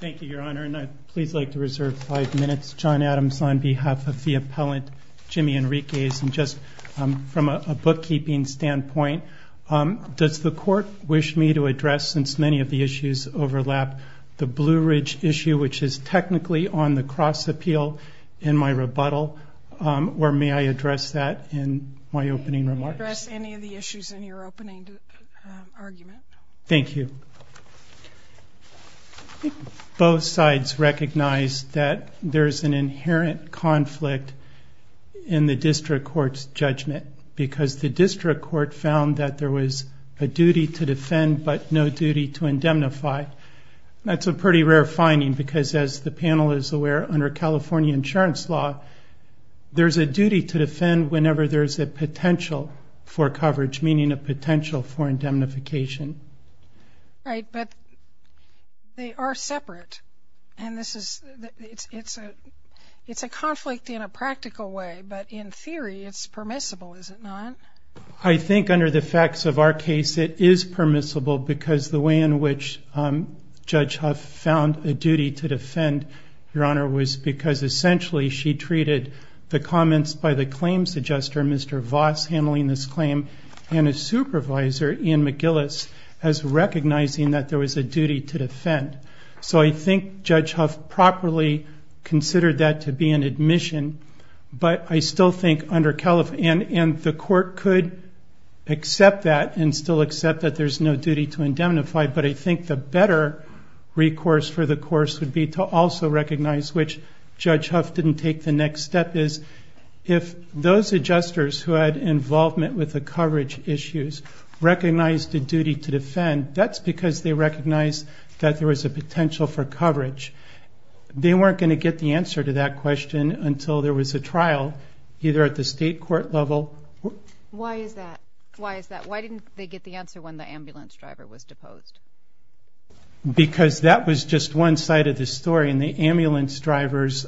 Thank you, Your Honor, and I'd please like to reserve five minutes. John Adams on behalf of the appellant, Jimmy Enriquez, and just from a bookkeeping standpoint, does the Court wish me to address, since many of the issues overlap, the Blue Ridge issue, which is technically on the cross-appeal in my rebuttal, or may I address that in my opening remarks? I'd like to address any of the issues in your opening argument. Thank you. I think both sides recognize that there's an inherent conflict in the District Court's judgment, because the District Court found that there was a duty to defend, but no duty to indemnify. That's a pretty rare finding, because as the panel is aware, under the facts of our case, it is permissible, because the way in which Judge Huff found a duty to defend, Your Honor, was because, essentially, she treated the comments by the claims adjuster, Mr. Voss, handling this claim, as if it were a duty to defend. Thank you, Your Honor. and a supervisor, Ian McGillis, as recognizing that there was a duty to defend. So I think Judge Huff properly considered that to be an admission, but I still think, under Caliph, and the Court could accept that, and still accept that there's no duty to indemnify, but I think the better recourse for the Course would be to also recognize, which Judge Huff didn't take the next step, is if those adjusters who had involvement with the coverage issues recognized a duty to defend, that's because they recognized that there was a potential for coverage. They weren't going to get the answer to that question until there was a trial, either at the State Court level... Why is that? Why didn't they get the answer when the ambulance driver was deposed? Because that was just one side of the story, and the ambulance driver's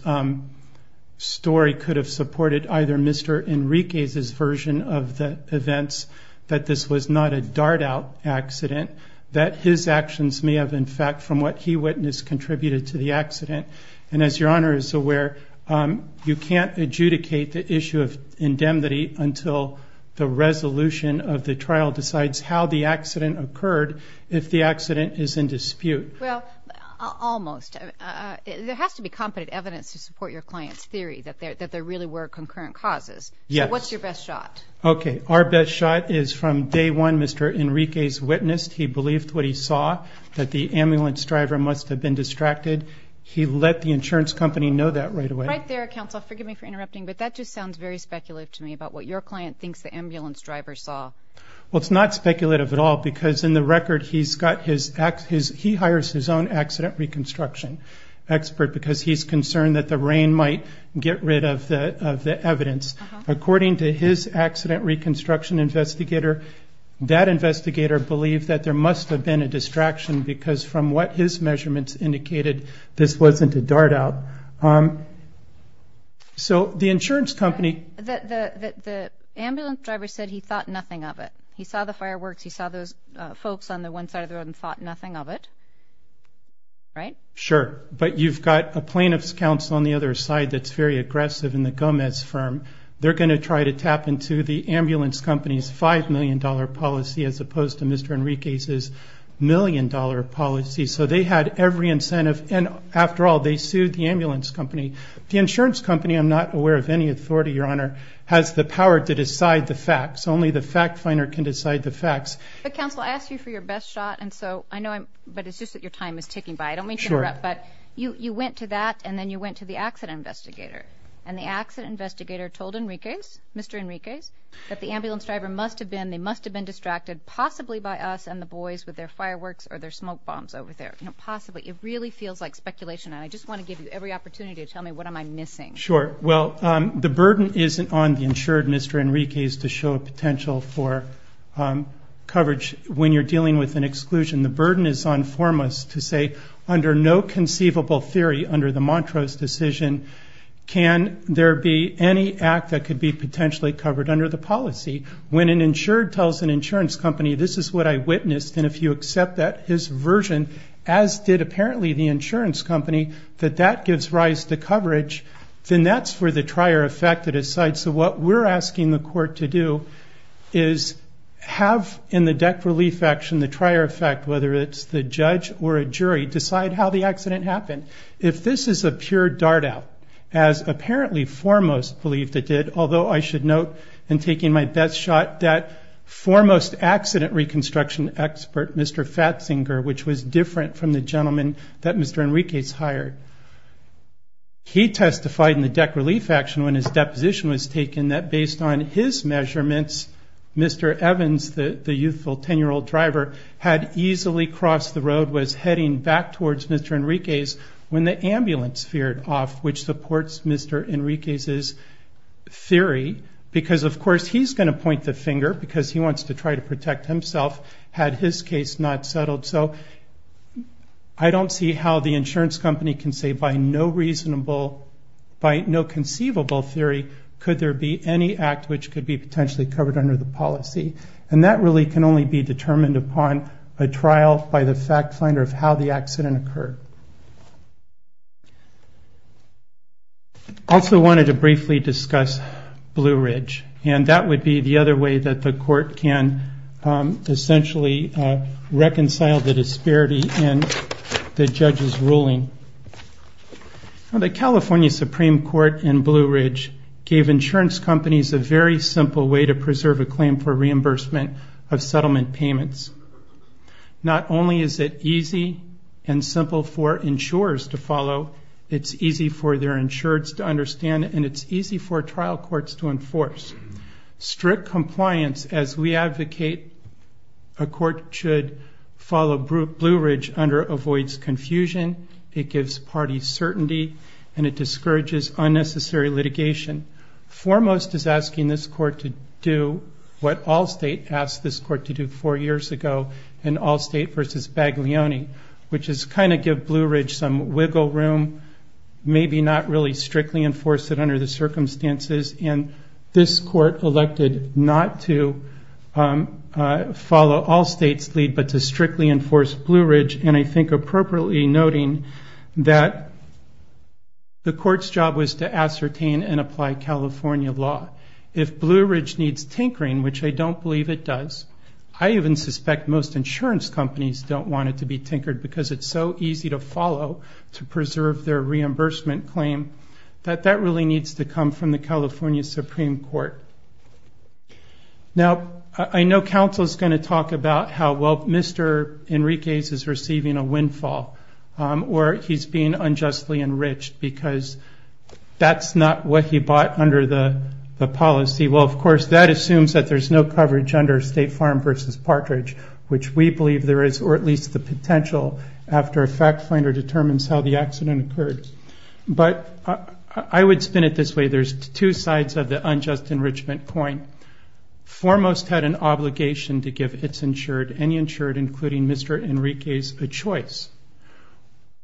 story could have supported either Mr. Enriquez's version of the events, that this was not a dart-out accident, that his actions may have, in fact, from what he witnessed, contributed to the accident, and as Your Honor is aware, you can't adjudicate the issue of indemnity until the resolution of the trial decides how the accident occurred, if the accident is in dispute. Well, almost. There has to be competent evidence to support your client's theory that there really were concurrent causes. Yes. So what's your best shot? Okay, our best shot is from day one, Mr. Enriquez witnessed, he believed what he saw, that the ambulance driver must have been distracted, he let the insurance company know that right away. Right there, counsel, forgive me for interrupting, but that just sounds very speculative to me about what your client thinks the ambulance driver saw. Well, it's not speculative at all, because in the record, he's got his, he hires his own accident reconstruction expert, because he's concerned that the rain might get rid of the evidence. According to his accident reconstruction investigator, that investigator believed that there must have been a distraction, because from what his measurements indicated, this wasn't a dart-out. So the insurance company The ambulance driver said he thought nothing of it. He saw the fireworks, he saw those folks on the one side of the road and thought nothing of it. Right? Sure. But you've got a plaintiff's counsel on the other side that's very aggressive in the Gomez firm. They're going to try to tap into the ambulance company's $5 million policy as opposed to Mr. Enriquez's $1 million policy. So they had every incentive, and after all, they sued the ambulance company. The insurance company, I'm not aware of any authority, Your Honor, has the power to decide the facts. Only the fact finder can decide the facts. But counsel, I asked you for your best shot, and so I know I'm, but it's just that your time is ticking by. I don't mean to interrupt. Sure. But you went to that, and then you went to the accident investigator. And the accident investigator told Enriquez, Mr. Enriquez, that the ambulance driver must have been, they must have been distracted possibly by us and the boys with their fireworks or their smoke bombs over there. You know, possibly. It really feels like speculation, and I just want to give you every opportunity to tell me what am I missing. Sure. Well, the burden isn't on the insured, Mr. Enriquez, to show a potential for coverage when you're dealing with an exclusion. The burden is on Formos to say, under no conceivable theory, under the Montrose decision, can there be any act that could be potentially covered under the policy. When an insured tells an insurance company, this is what I witnessed, and if you accept that, his version, as did apparently the insurance company, that that gives rise to coverage, then that's for the trier effect to decide. So what we're asking the court to do is have, in the debt relief action, the trier effect, whether it's the judge or a jury, decide how the accident happened. If this is a pure dart out, as apparently Formos believed it did, although I should note, in taking my best shot, that Formos accident reconstruction expert, Mr. Fatzinger, which was different from the gentleman that Mr. Enriquez hired, he testified in the debt relief action when his deposition was taken, that based on his measurements, Mr. Evans, the youthful 10-year-old driver, had easily crossed the road, was heading back towards Mr. Enriquez when the ambulance veered off, which supports Mr. Enriquez's theory because, of course, he's going to point the finger because he wants to try to protect himself had his case not settled. So I don't see how the insurance company can say by no reasonable, by no conceivable theory, could there be any act which could be potentially covered under the policy. And that really can only be determined upon a trial by the fact finder of how the accident occurred. I also wanted to briefly discuss Blue Ridge, and that would be the other way that the court can essentially reconcile the disparity in the judge's ruling. The California Supreme Court in Blue Ridge gave insurance companies a very simple way to preserve a claim for reimbursement of settlement payments. Not only is it easy and simple for insurers to follow, it's easy for their insureds to understand, and it's easy for trial courts to enforce. Strict compliance, as we advocate, a court should follow Blue Ridge under avoids confusion, it gives parties certainty, and it discourages unnecessary litigation. Foremost is asking this court to do what Allstate asked this court to do four years ago in Allstate versus Baglioni, which is kind of give Blue Ridge some wiggle room, maybe not really strictly enforce it under the circumstances, and this court elected not to follow Allstate's lead but to strictly enforce Blue Ridge, and I think appropriately noting that the court's job was to ascertain and apply California law. If Blue Ridge needs tinkering, which I don't believe it does, I even suspect most insurance companies don't want it to be tinkered because it's so easy to follow to preserve their reimbursement claim, that that really needs to come from the California Supreme Court. Now, I know counsel's going to talk about how well Mr. Enriquez is receiving a windfall or he's being unjustly enriched because that's not what he bought under the policy. Well, of course, that assumes that there's no coverage under State Farm versus Partridge, which we believe there is, or at least the potential, after a fact finder determines how the accident occurred. But I would spin it this way. There's two sides of the unjust enrichment coin. Foremost had an obligation to give any insured, including Mr. Enriquez, a choice.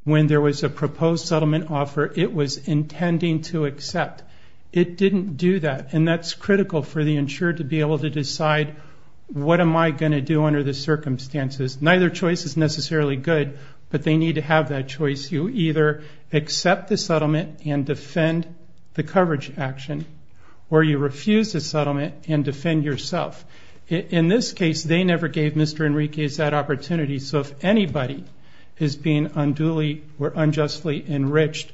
When there was a proposed settlement offer, it was intending to accept. It didn't do that, and that's critical for the insured to be able to decide, what am I going to do under the circumstances? Neither choice is necessarily good, but they need to have that choice. You either accept the settlement and defend the coverage action or you refuse the settlement and defend yourself. In this case, they never gave Mr. Enriquez that opportunity, so if anybody is being unduly or unjustly enriched,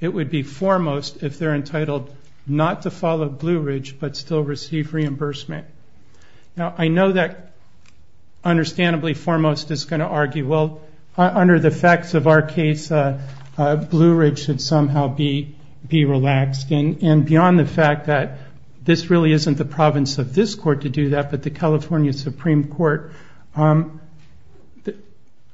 it would be foremost if they're entitled not to follow Blue Ridge but still receive reimbursement. Now, I know that understandably foremost is going to argue, well, under the facts of our case, Blue Ridge should somehow be relaxed. And beyond the fact that this really isn't the province of this court to do that, but the California Supreme Court,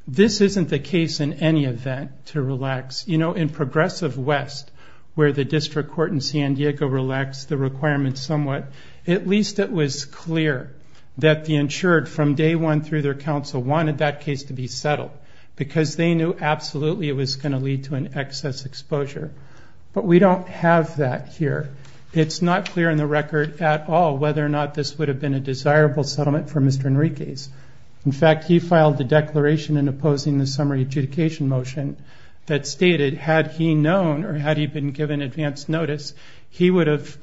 this isn't the case in any event to relax. You know, in Progressive West, where the district court in San Diego relaxed the requirements somewhat, at least it was clear that the insured from day one through their counsel wanted that case to be settled because they knew absolutely it was going to lead to an excess exposure. But we don't have that here. It's not clear in the record at all whether or not this would have been a desirable settlement for Mr. Enriquez. In fact, he filed a declaration in opposing the summary adjudication motion that stated had he known or had he been given advance notice, he would have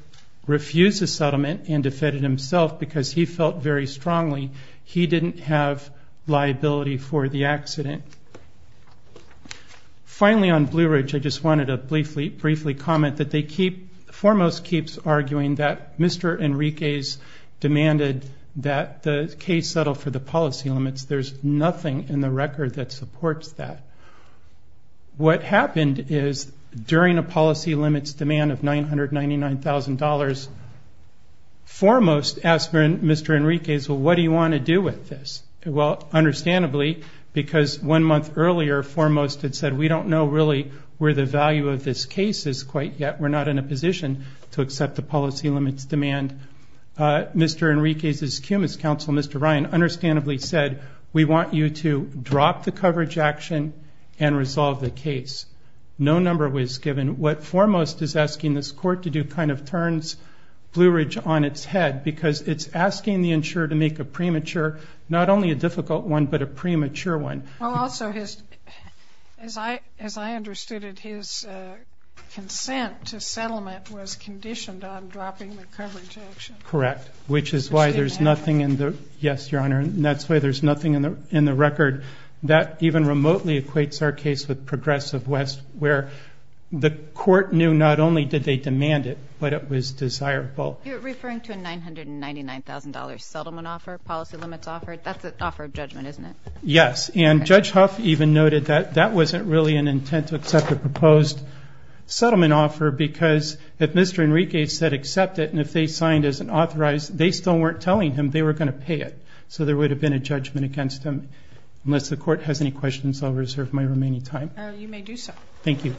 refused the settlement and defended himself because he felt very strongly he didn't have liability for the accident. Finally, on Blue Ridge, I just wanted to briefly comment that Foremost keeps arguing that Mr. Enriquez demanded that the case settle for the policy limits. There's nothing in the record that supports that. What happened is during a policy limits demand of $999,000, Foremost asked Mr. Enriquez, well, what do you want to do with this? Well, understandably, because one month earlier, Foremost had said we don't know really where the value of this case is quite yet. We're not in a position to accept the policy limits demand. Mr. Enriquez's cumulus counsel, Mr. Ryan, understandably said, we want you to drop the coverage action and resolve the case. No number was given. What Foremost is asking this court to do kind of turns Blue Ridge on its head because it's asking the insurer to make a premature, not only a difficult one, but a premature one. Also, as I understood it, his consent to settlement was conditioned on dropping the coverage action. Correct, which is why there's nothing in the record. That even remotely equates our case with Progressive West where the court knew not only did they demand it, but it was desirable. You're referring to a $999,000 settlement offer, policy limits offer? That's an offer of judgment, isn't it? Yes, and Judge Huff even noted that that wasn't really an intent to accept a proposed settlement offer because if Mr. Enriquez said accept it and if they signed as an authorized, they still weren't telling him they were going to pay it. So there would have been a judgment against them. Unless the court has any questions, I'll reserve my remaining time. You may do so. Thank you.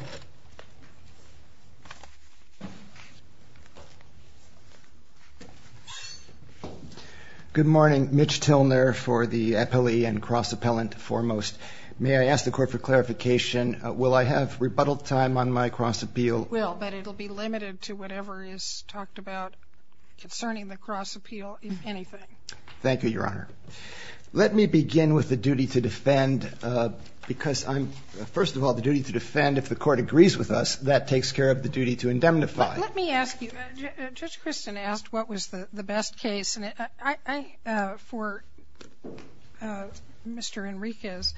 Good morning. Mitch Tilner for the appellee and cross appellant foremost. May I ask the court for clarification? Will I have rebuttal time on my cross appeal? You will, but it will be limited to whatever is talked about concerning the cross appeal, if anything. Thank you, Your Honor. Let me begin with the duty to defend because I'm, first of all, the duty to defend if the court agrees with us, that takes care of the duty to indemnify. Let me ask you, Judge Christin asked what was the best case for Mr. Enriquez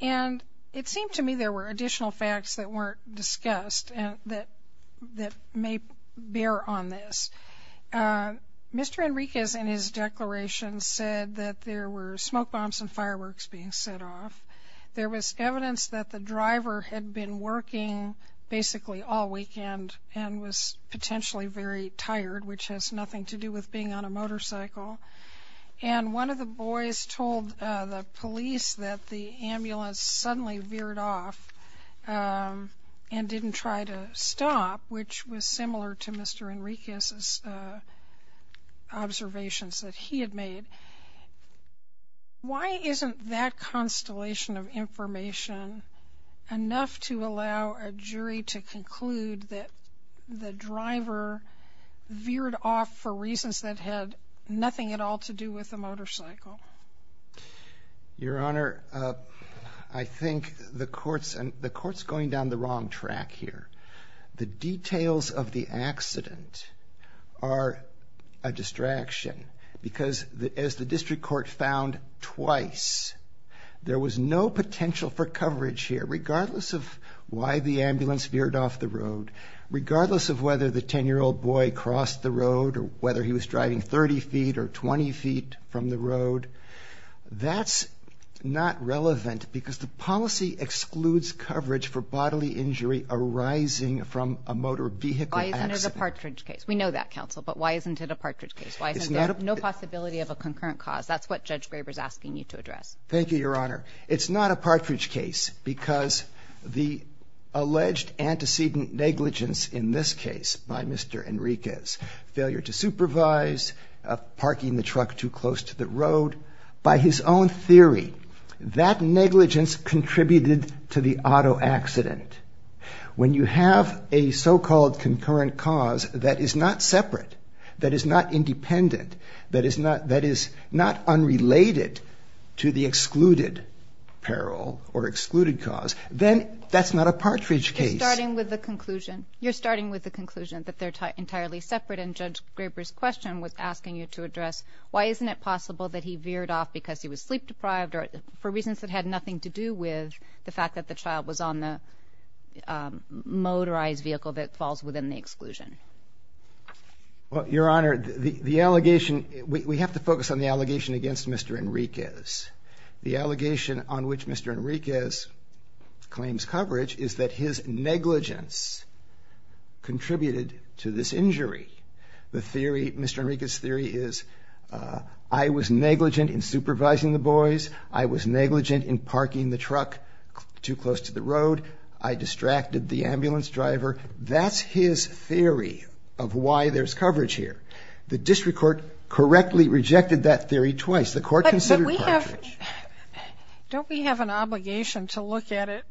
and it seemed to me there were additional facts that weren't discussed that may bear on this. Mr. Enriquez in his declaration said that there were smoke bombs and fireworks being set off. There was evidence that the driver had been working basically all weekend and was potentially very tired, which has nothing to do with being on a motorcycle. And one of the boys told the police that the ambulance suddenly veered off and didn't try to stop, which was similar to Mr. Enriquez's observations that he had made. Why isn't that constellation of information enough to allow a jury to conclude that the driver veered off for reasons that had nothing at all to do with the motorcycle? Your Honor, I think the court's going down the wrong track here. The details of the accident are a distraction because as the district court found twice, there was no potential for coverage here, regardless of why the ambulance veered off the road, regardless of whether the 10-year-old boy crossed the road or whether he was driving 30 feet or 20 feet from the road. That's not relevant because the policy excludes coverage for bodily injury arising from a motor vehicle accident. Why isn't it a Partridge case? We know that, Counsel, but why isn't it a Partridge case? Why isn't there no possibility of a concurrent cause? That's what Judge Graber's asking you to address. Thank you, Your Honor. It's not a Partridge case because the alleged antecedent negligence in this case by Mr. Enriquez, failure to supervise, parking the truck too close to the road, by his own theory, that negligence contributed to the auto accident. When you have a so-called concurrent cause that is not separate, that is not independent, that is not unrelated to the excluded peril or excluded cause, then that's not a Partridge case. You're starting with the conclusion that they're entirely separate, and Judge Graber's question was asking you to address why isn't it possible that he veered off because he was sleep-deprived or for reasons that had nothing to do with the fact that the child was on the motorized vehicle that falls within the exclusion. Your Honor, the allegation, we have to focus on the allegation against Mr. Enriquez. The allegation on which Mr. Enriquez claims coverage is that his negligence contributed to this injury. The theory, Mr. Enriquez's theory, is I was negligent in supervising the boys, I was negligent in parking the truck too close to the road, I distracted the ambulance driver. That's his theory of why there's coverage here. The district court correctly rejected that theory twice. The court considered Partridge. Don't we have an obligation to look at it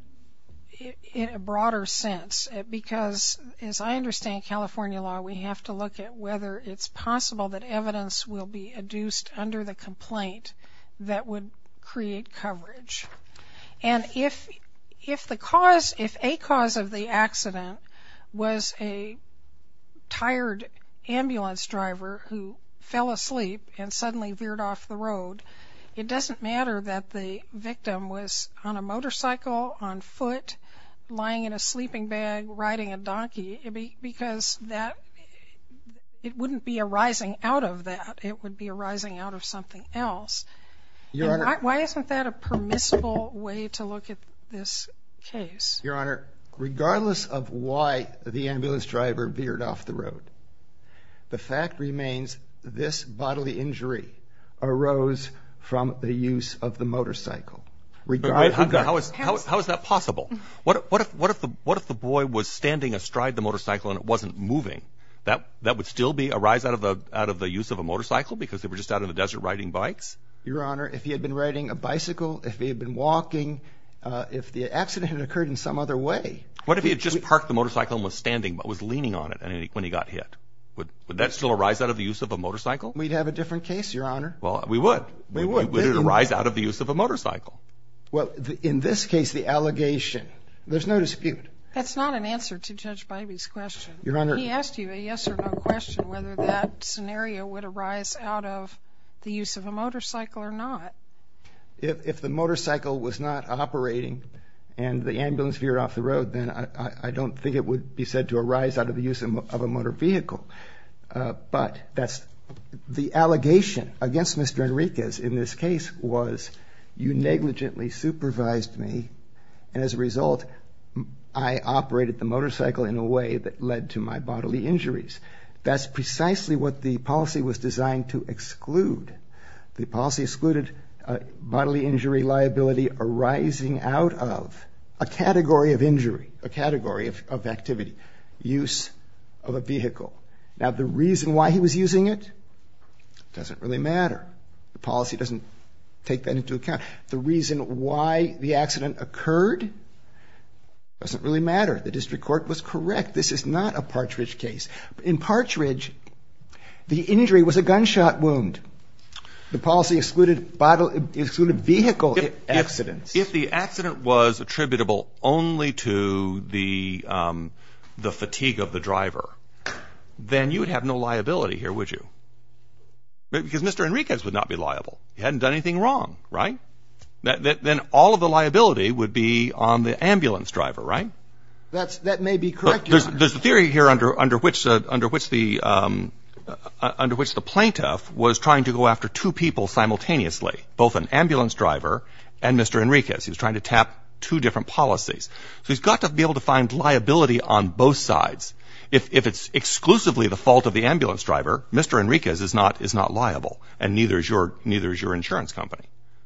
in a broader sense? Because as I understand California law, we have to look at whether it's possible that evidence will be adduced under the complaint that would create coverage. And if a cause of the accident was a tired ambulance driver who fell asleep and suddenly veered off the road, it doesn't matter that the victim was on a motorcycle, on foot, lying in a sleeping bag, riding a donkey, because it wouldn't be arising out of that. It would be arising out of something else. Why isn't that a permissible way to look at this case? Your Honor, regardless of why the ambulance driver veered off the road, the fact remains this bodily injury arose from the use of the motorcycle. How is that possible? What if the boy was standing astride the motorcycle and it wasn't moving? That would still arise out of the use of a motorcycle because they were just out in the desert riding bikes? Your Honor, if he had been riding a bicycle, if he had been walking, if the accident had occurred in some other way. What if he had just parked the motorcycle and was standing but was leaning on it when he got hit? Would that still arise out of the use of a motorcycle? We'd have a different case, Your Honor. Well, we would. We would. Would it arise out of the use of a motorcycle? Well, in this case, the allegation, there's no dispute. That's not an answer to Judge Bybee's question. Your Honor. He asked you a yes or no question whether that scenario would arise out of the use of a motorcycle or not. If the motorcycle was not operating and the ambulance veered off the road, then I don't think it would be said to arise out of the use of a motor vehicle. But the allegation against Mr. Henriquez in this case was you negligently supervised me, and as a result I operated the motorcycle in a way that led to my bodily injuries. That's precisely what the policy was designed to exclude. The policy excluded bodily injury liability arising out of a category of injury, a category of activity, use of a vehicle. Now, the reason why he was using it doesn't really matter. The policy doesn't take that into account. The reason why the accident occurred doesn't really matter. The district court was correct. This is not a Partridge case. In Partridge, the injury was a gunshot wound. The policy excluded vehicle accidents. If the accident was attributable only to the fatigue of the driver, then you would have no liability here, would you? Because Mr. Henriquez would not be liable. He hadn't done anything wrong, right? Then all of the liability would be on the ambulance driver, right? That may be correct. There's a theory here under which the plaintiff was trying to go after two people simultaneously, both an ambulance driver and Mr. Henriquez. He was trying to tap two different policies. So he's got to be able to find liability on both sides. If it's exclusively the fault of the ambulance driver, Mr. Henriquez is not liable, and neither is your insurance company,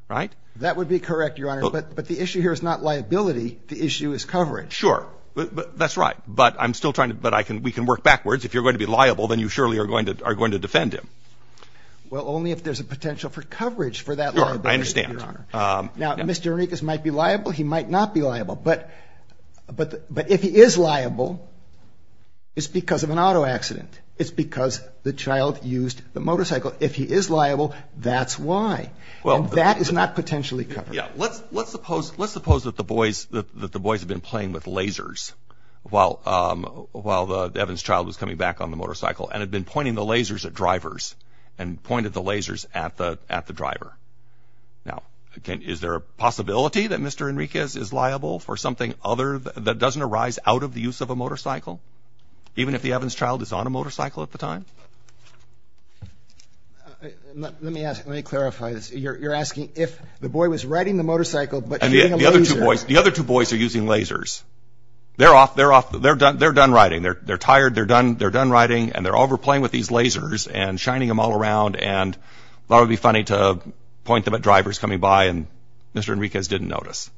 right? That would be correct, Your Honor. But the issue here is not liability. The issue is coverage. Sure. That's right. But I'm still trying to – but we can work backwards. If you're going to be liable, then you surely are going to defend him. Well, only if there's a potential for coverage for that liability, Your Honor. I understand. Now, Mr. Henriquez might be liable. He might not be liable. But if he is liable, it's because of an auto accident. It's because the child used the motorcycle. If he is liable, that's why. And that is not potentially covered. Yeah. Let's suppose that the boys had been playing with lasers while Evan's child was coming back on the motorcycle and had been pointing the lasers at drivers and pointed the lasers at the driver. Now, is there a possibility that Mr. Henriquez is liable for something other – that doesn't arise out of the use of a motorcycle, even if the Evan's child is on a motorcycle at the time? Let me ask – let me clarify this. You're asking if the boy was riding the motorcycle but using lasers. The other two boys are using lasers. They're off – they're done riding. They're tired. They're done riding, and they're overplaying with these lasers and shining them all around. And that would be funny to point them at drivers coming by, and Mr. Henriquez didn't notice.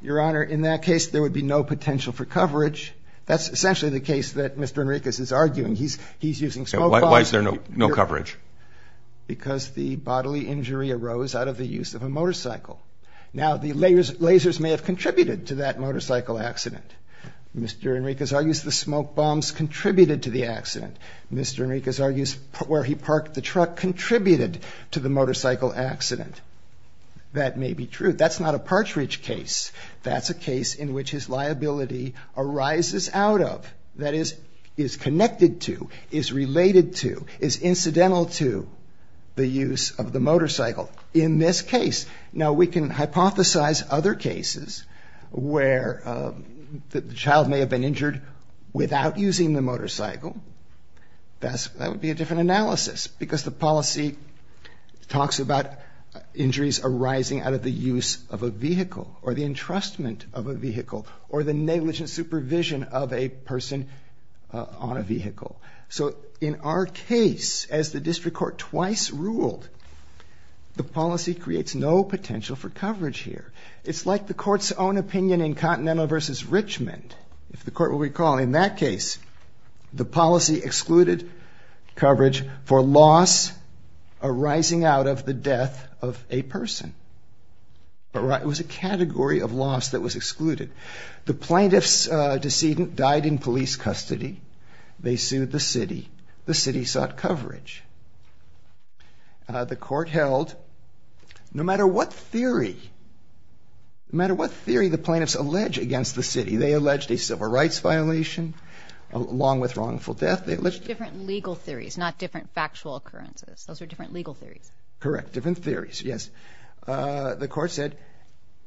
Your Honor, in that case, there would be no potential for coverage. That's essentially the case that Mr. Henriquez is arguing. He's using smoke bombs. Why is there no coverage? Because the bodily injury arose out of the use of a motorcycle. Now, the lasers may have contributed to that motorcycle accident. Mr. Henriquez argues the smoke bombs contributed to the accident. Mr. Henriquez argues where he parked the truck contributed to the motorcycle accident. That may be true. That's not a Partridge case. That's a case in which his liability arises out of, that is, is connected to, is related to, is incidental to the use of the motorcycle in this case. Now, we can hypothesize other cases where the child may have been injured without using the motorcycle. That would be a different analysis, because the policy talks about injuries arising out of the use of a vehicle or the entrustment of a vehicle or the negligent supervision of a person on a vehicle. So in our case, as the district court twice ruled, the policy creates no potential for coverage here. It's like the court's own opinion in Continental v. Richmond. If the court will recall, in that case, the policy excluded coverage for loss arising out of the death of a person. It was a category of loss that was excluded. The plaintiff's decedent died in police custody. They sued the city. The city sought coverage. The court held, no matter what theory, no matter what theory the plaintiffs allege against the city, they alleged a civil rights violation along with wrongful death. They alleged different legal theories, not different factual occurrences. Those are different legal theories. Correct, different theories, yes. The court said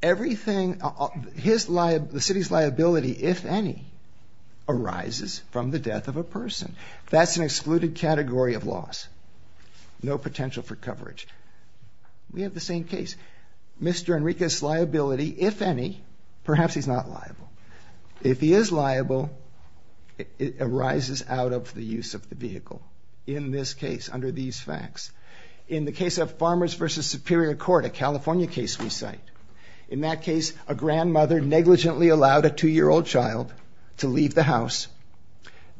the city's liability, if any, arises from the death of a person. That's an excluded category of loss, no potential for coverage. We have the same case. Mr. Enriquez's liability, if any, perhaps he's not liable. If he is liable, it arises out of the use of the vehicle, in this case, under these facts. In the case of Farmers v. Superior Court, a California case we cite, in that case, a grandmother negligently allowed a 2-year-old child to leave the house.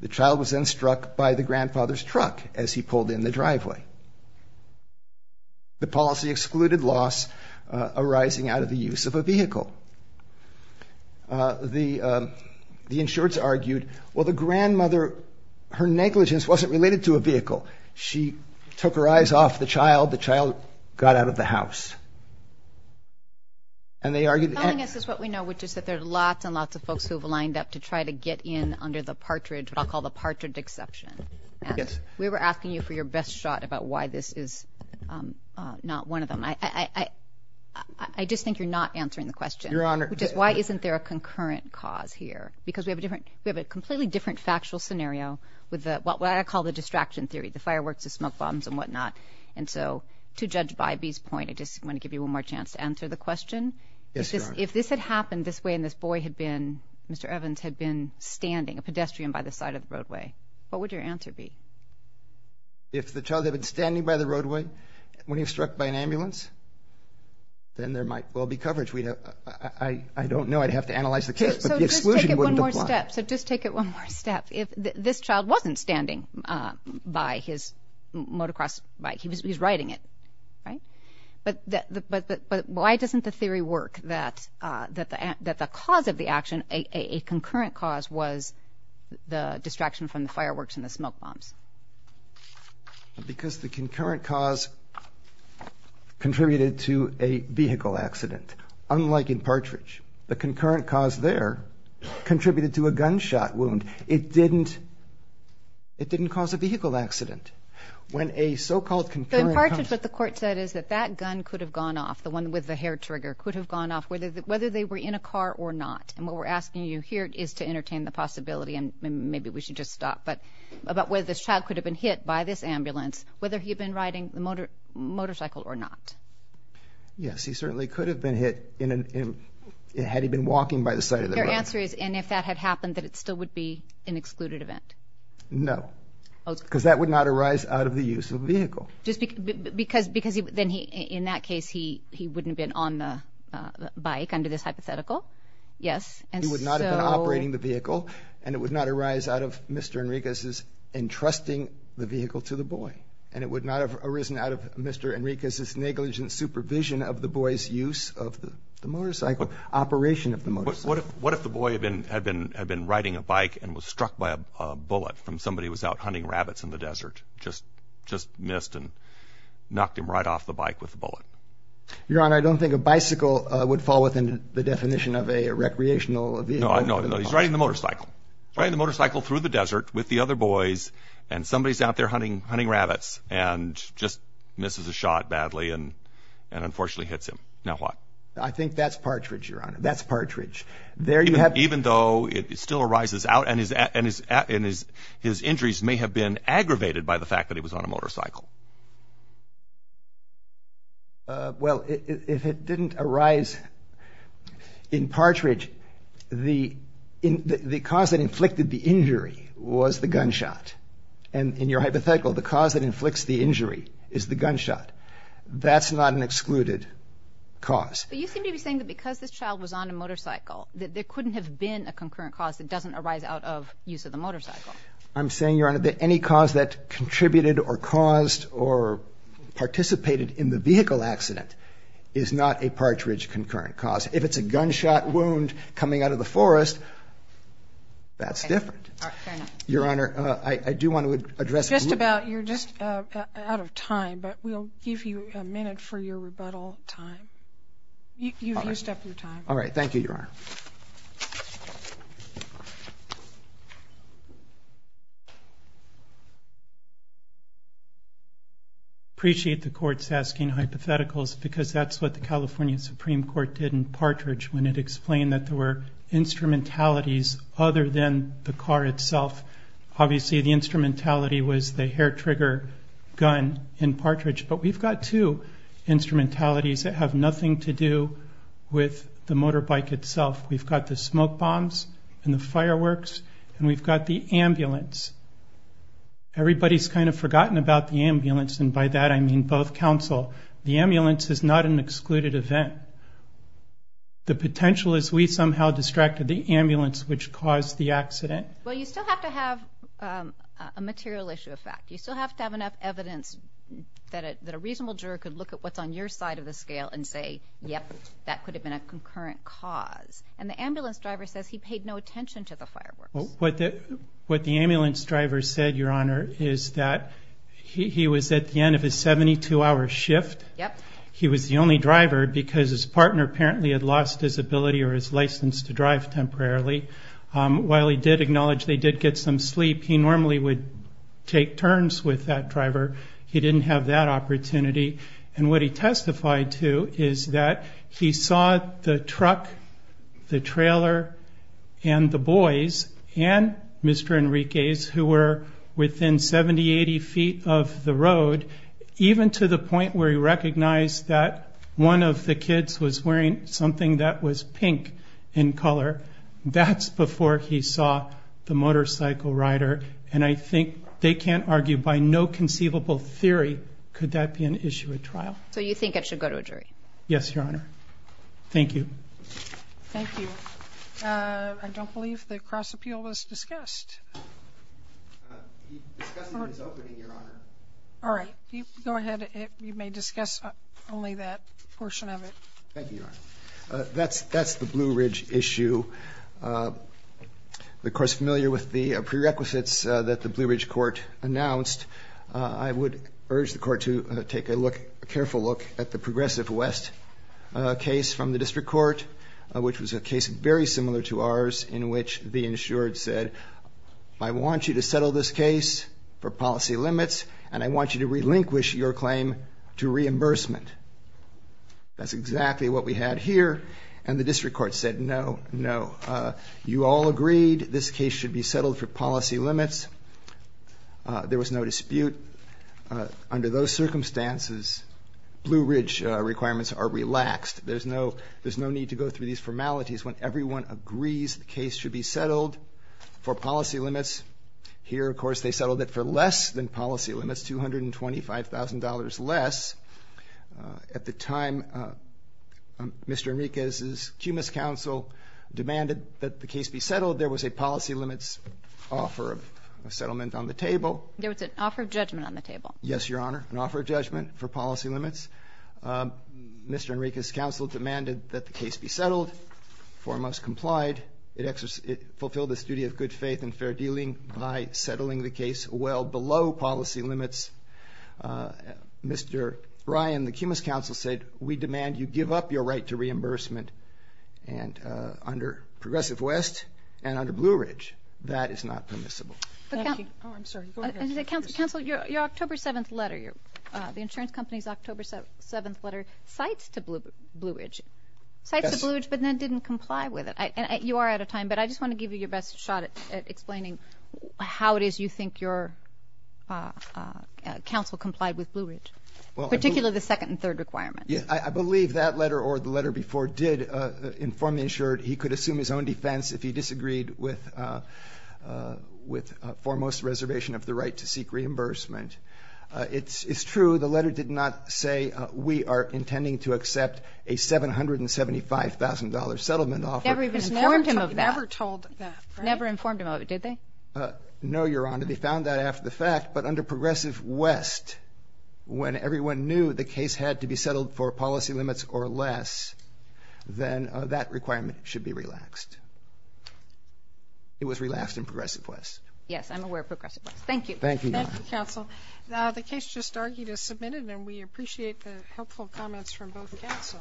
The child was then struck by the grandfather's truck as he pulled in the driveway. The policy excluded loss arising out of the use of a vehicle. The insureds argued, well, the grandmother, her negligence wasn't related to a vehicle. She took her eyes off the child. The child got out of the house. And they argued that- Telling us is what we know, which is that there are lots and lots of folks who have lined up to try to get in under the partridge, what I'll call the partridge exception. Yes. We were asking you for your best shot about why this is not one of them. I just think you're not answering the question. Your Honor- Which is, why isn't there a concurrent cause here? Because we have a completely different factual scenario with what I call the distraction theory. The fireworks, the smoke bombs, and whatnot. And so to Judge Bybee's point, I just want to give you one more chance to answer the question. Yes, Your Honor. If this had happened this way and this boy had been, Mr. Evans, had been standing, a pedestrian by the side of the roadway, what would your answer be? If the child had been standing by the roadway when he was struck by an ambulance, then there might well be coverage. I don't know. I'd have to analyze the case, but the exclusion wouldn't apply. So just take it one more step. If this child wasn't standing by his motocross bike, he was riding it, right? But why doesn't the theory work that the cause of the action, a concurrent cause, was the distraction from the fireworks and the smoke bombs? Because the concurrent cause contributed to a vehicle accident. Unlike in Partridge, the concurrent cause there contributed to a gunshot wound. It didn't cause a vehicle accident. When a so-called concurrent cause... So in Partridge, what the court said is that that gun could have gone off, the one with the hair trigger, could have gone off whether they were in a car or not. And what we're asking you here is to entertain the possibility, and maybe we should just stop, but about whether this child could have been hit by this ambulance, whether he had been riding the motorcycle or not. Yes, he certainly could have been hit had he been walking by the side of the road. So your answer is, and if that had happened, that it still would be an excluded event? No, because that would not arise out of the use of the vehicle. Because then in that case he wouldn't have been on the bike under this hypothetical? Yes. He would not have been operating the vehicle, and it would not arise out of Mr. Enriquez's entrusting the vehicle to the boy. And it would not have arisen out of Mr. Enriquez's negligent supervision of the boy's use of the motorcycle, operation of the motorcycle. But what if the boy had been riding a bike and was struck by a bullet from somebody who was out hunting rabbits in the desert, just missed and knocked him right off the bike with a bullet? Your Honor, I don't think a bicycle would fall within the definition of a recreational vehicle. No, he's riding the motorcycle. He's riding the motorcycle through the desert with the other boys, and somebody's out there hunting rabbits and just misses a shot badly and unfortunately hits him. Now what? I think that's partridge, Your Honor. That's partridge. Even though it still arises out and his injuries may have been aggravated by the fact that he was on a motorcycle? Well, if it didn't arise in partridge, the cause that inflicted the injury was the gunshot. And in your hypothetical, the cause that inflicts the injury is the gunshot. That's not an excluded cause. But you seem to be saying that because this child was on a motorcycle, that there couldn't have been a concurrent cause that doesn't arise out of use of the motorcycle. I'm saying, Your Honor, that any cause that contributed or caused or participated in the vehicle accident is not a partridge concurrent cause. If it's a gunshot wound coming out of the forest, that's different. Your Honor, I do want to address the group. You're just out of time, but we'll give you a minute for your rebuttal time. You've used up your time. All right. Thank you, Your Honor. I appreciate the court's asking hypotheticals because that's what the California Supreme Court did in partridge when it explained that there were instrumentalities other than the car itself. Obviously, the instrumentality was the hair trigger gun in partridge, but we've got two instrumentalities that have nothing to do with the motorbike itself. We've got the smoke bombs and the fireworks, and we've got the ambulance. Everybody's kind of forgotten about the ambulance, and by that I mean both counsel. The ambulance is not an excluded event. The potential is we somehow distracted the ambulance, which caused the accident. Well, you still have to have a material issue of fact. You still have to have enough evidence that a reasonable juror could look at what's on your side of the scale and say, yep, that could have been a concurrent cause. And the ambulance driver says he paid no attention to the fireworks. What the ambulance driver said, Your Honor, is that he was at the end of his 72-hour shift. Yep. He was the only driver because his partner apparently had lost his ability or his license to drive temporarily. While he did acknowledge they did get some sleep, he normally would take turns with that driver. He didn't have that opportunity. And what he testified to is that he saw the truck, the trailer, and the boys, and Mr. Enriquez, who were within 70, 80 feet of the road, even to the point where he recognized that one of the kids was wearing something that was pink in color. That's before he saw the motorcycle rider. And I think they can't argue by no conceivable theory could that be an issue at trial. So you think it should go to a jury? Yes, Your Honor. Thank you. Thank you. I don't believe the cross-appeal was discussed. We discussed it at its opening, Your Honor. All right. Go ahead. You may discuss only that portion of it. Thank you, Your Honor. That's the Blue Ridge issue. Of course, familiar with the prerequisites that the Blue Ridge Court announced, I would urge the Court to take a careful look at the Progressive West case from the District Court, which was a case very similar to ours in which the insured said, I want you to settle this case for policy limits, and I want you to relinquish your claim to reimbursement. That's exactly what we had here, and the District Court said no, no. You all agreed this case should be settled for policy limits. There was no dispute. Under those circumstances, Blue Ridge requirements are relaxed. There's no need to go through these formalities when everyone agrees the case should be settled for policy limits. Here, of course, they settled it for less than policy limits, $225,000 less. At the time, Mr. Enriquez's cumulus counsel demanded that the case be settled. There was a policy limits offer of settlement on the table. There was an offer of judgment on the table. Yes, Your Honor, an offer of judgment for policy limits. Mr. Enriquez's counsel demanded that the case be settled, foremost complied. It fulfilled its duty of good faith and fair dealing by settling the case well below policy limits. Mr. Bryan, the cumulus counsel said we demand you give up your right to reimbursement under Progressive West and under Blue Ridge. That is not permissible. Thank you. Oh, I'm sorry. Go ahead. Counsel, your October 7th letter, the insurance company's October 7th letter cites to Blue Ridge, but then didn't comply with it. You are out of time, but I just want to give you your best shot at explaining how it is you think your counsel complied with Blue Ridge, particularly the second and third requirements. I believe that letter or the letter before did inform the insured he could assume his own defense if he disagreed with foremost reservation of the right to seek reimbursement. It's true. The letter did not say we are intending to accept a $775,000 settlement offer. It never informed him of that. Never told that. Never informed him of it, did they? No, Your Honor. They found that after the fact. But under Progressive West, when everyone knew the case had to be settled for policy limits or less, then that requirement should be relaxed. It was relaxed in Progressive West. Yes, I'm aware of Progressive West. Thank you. Thank you, Your Honor. Thank you, counsel. The case just argued as submitted, and we appreciate the helpful comments from both counsel.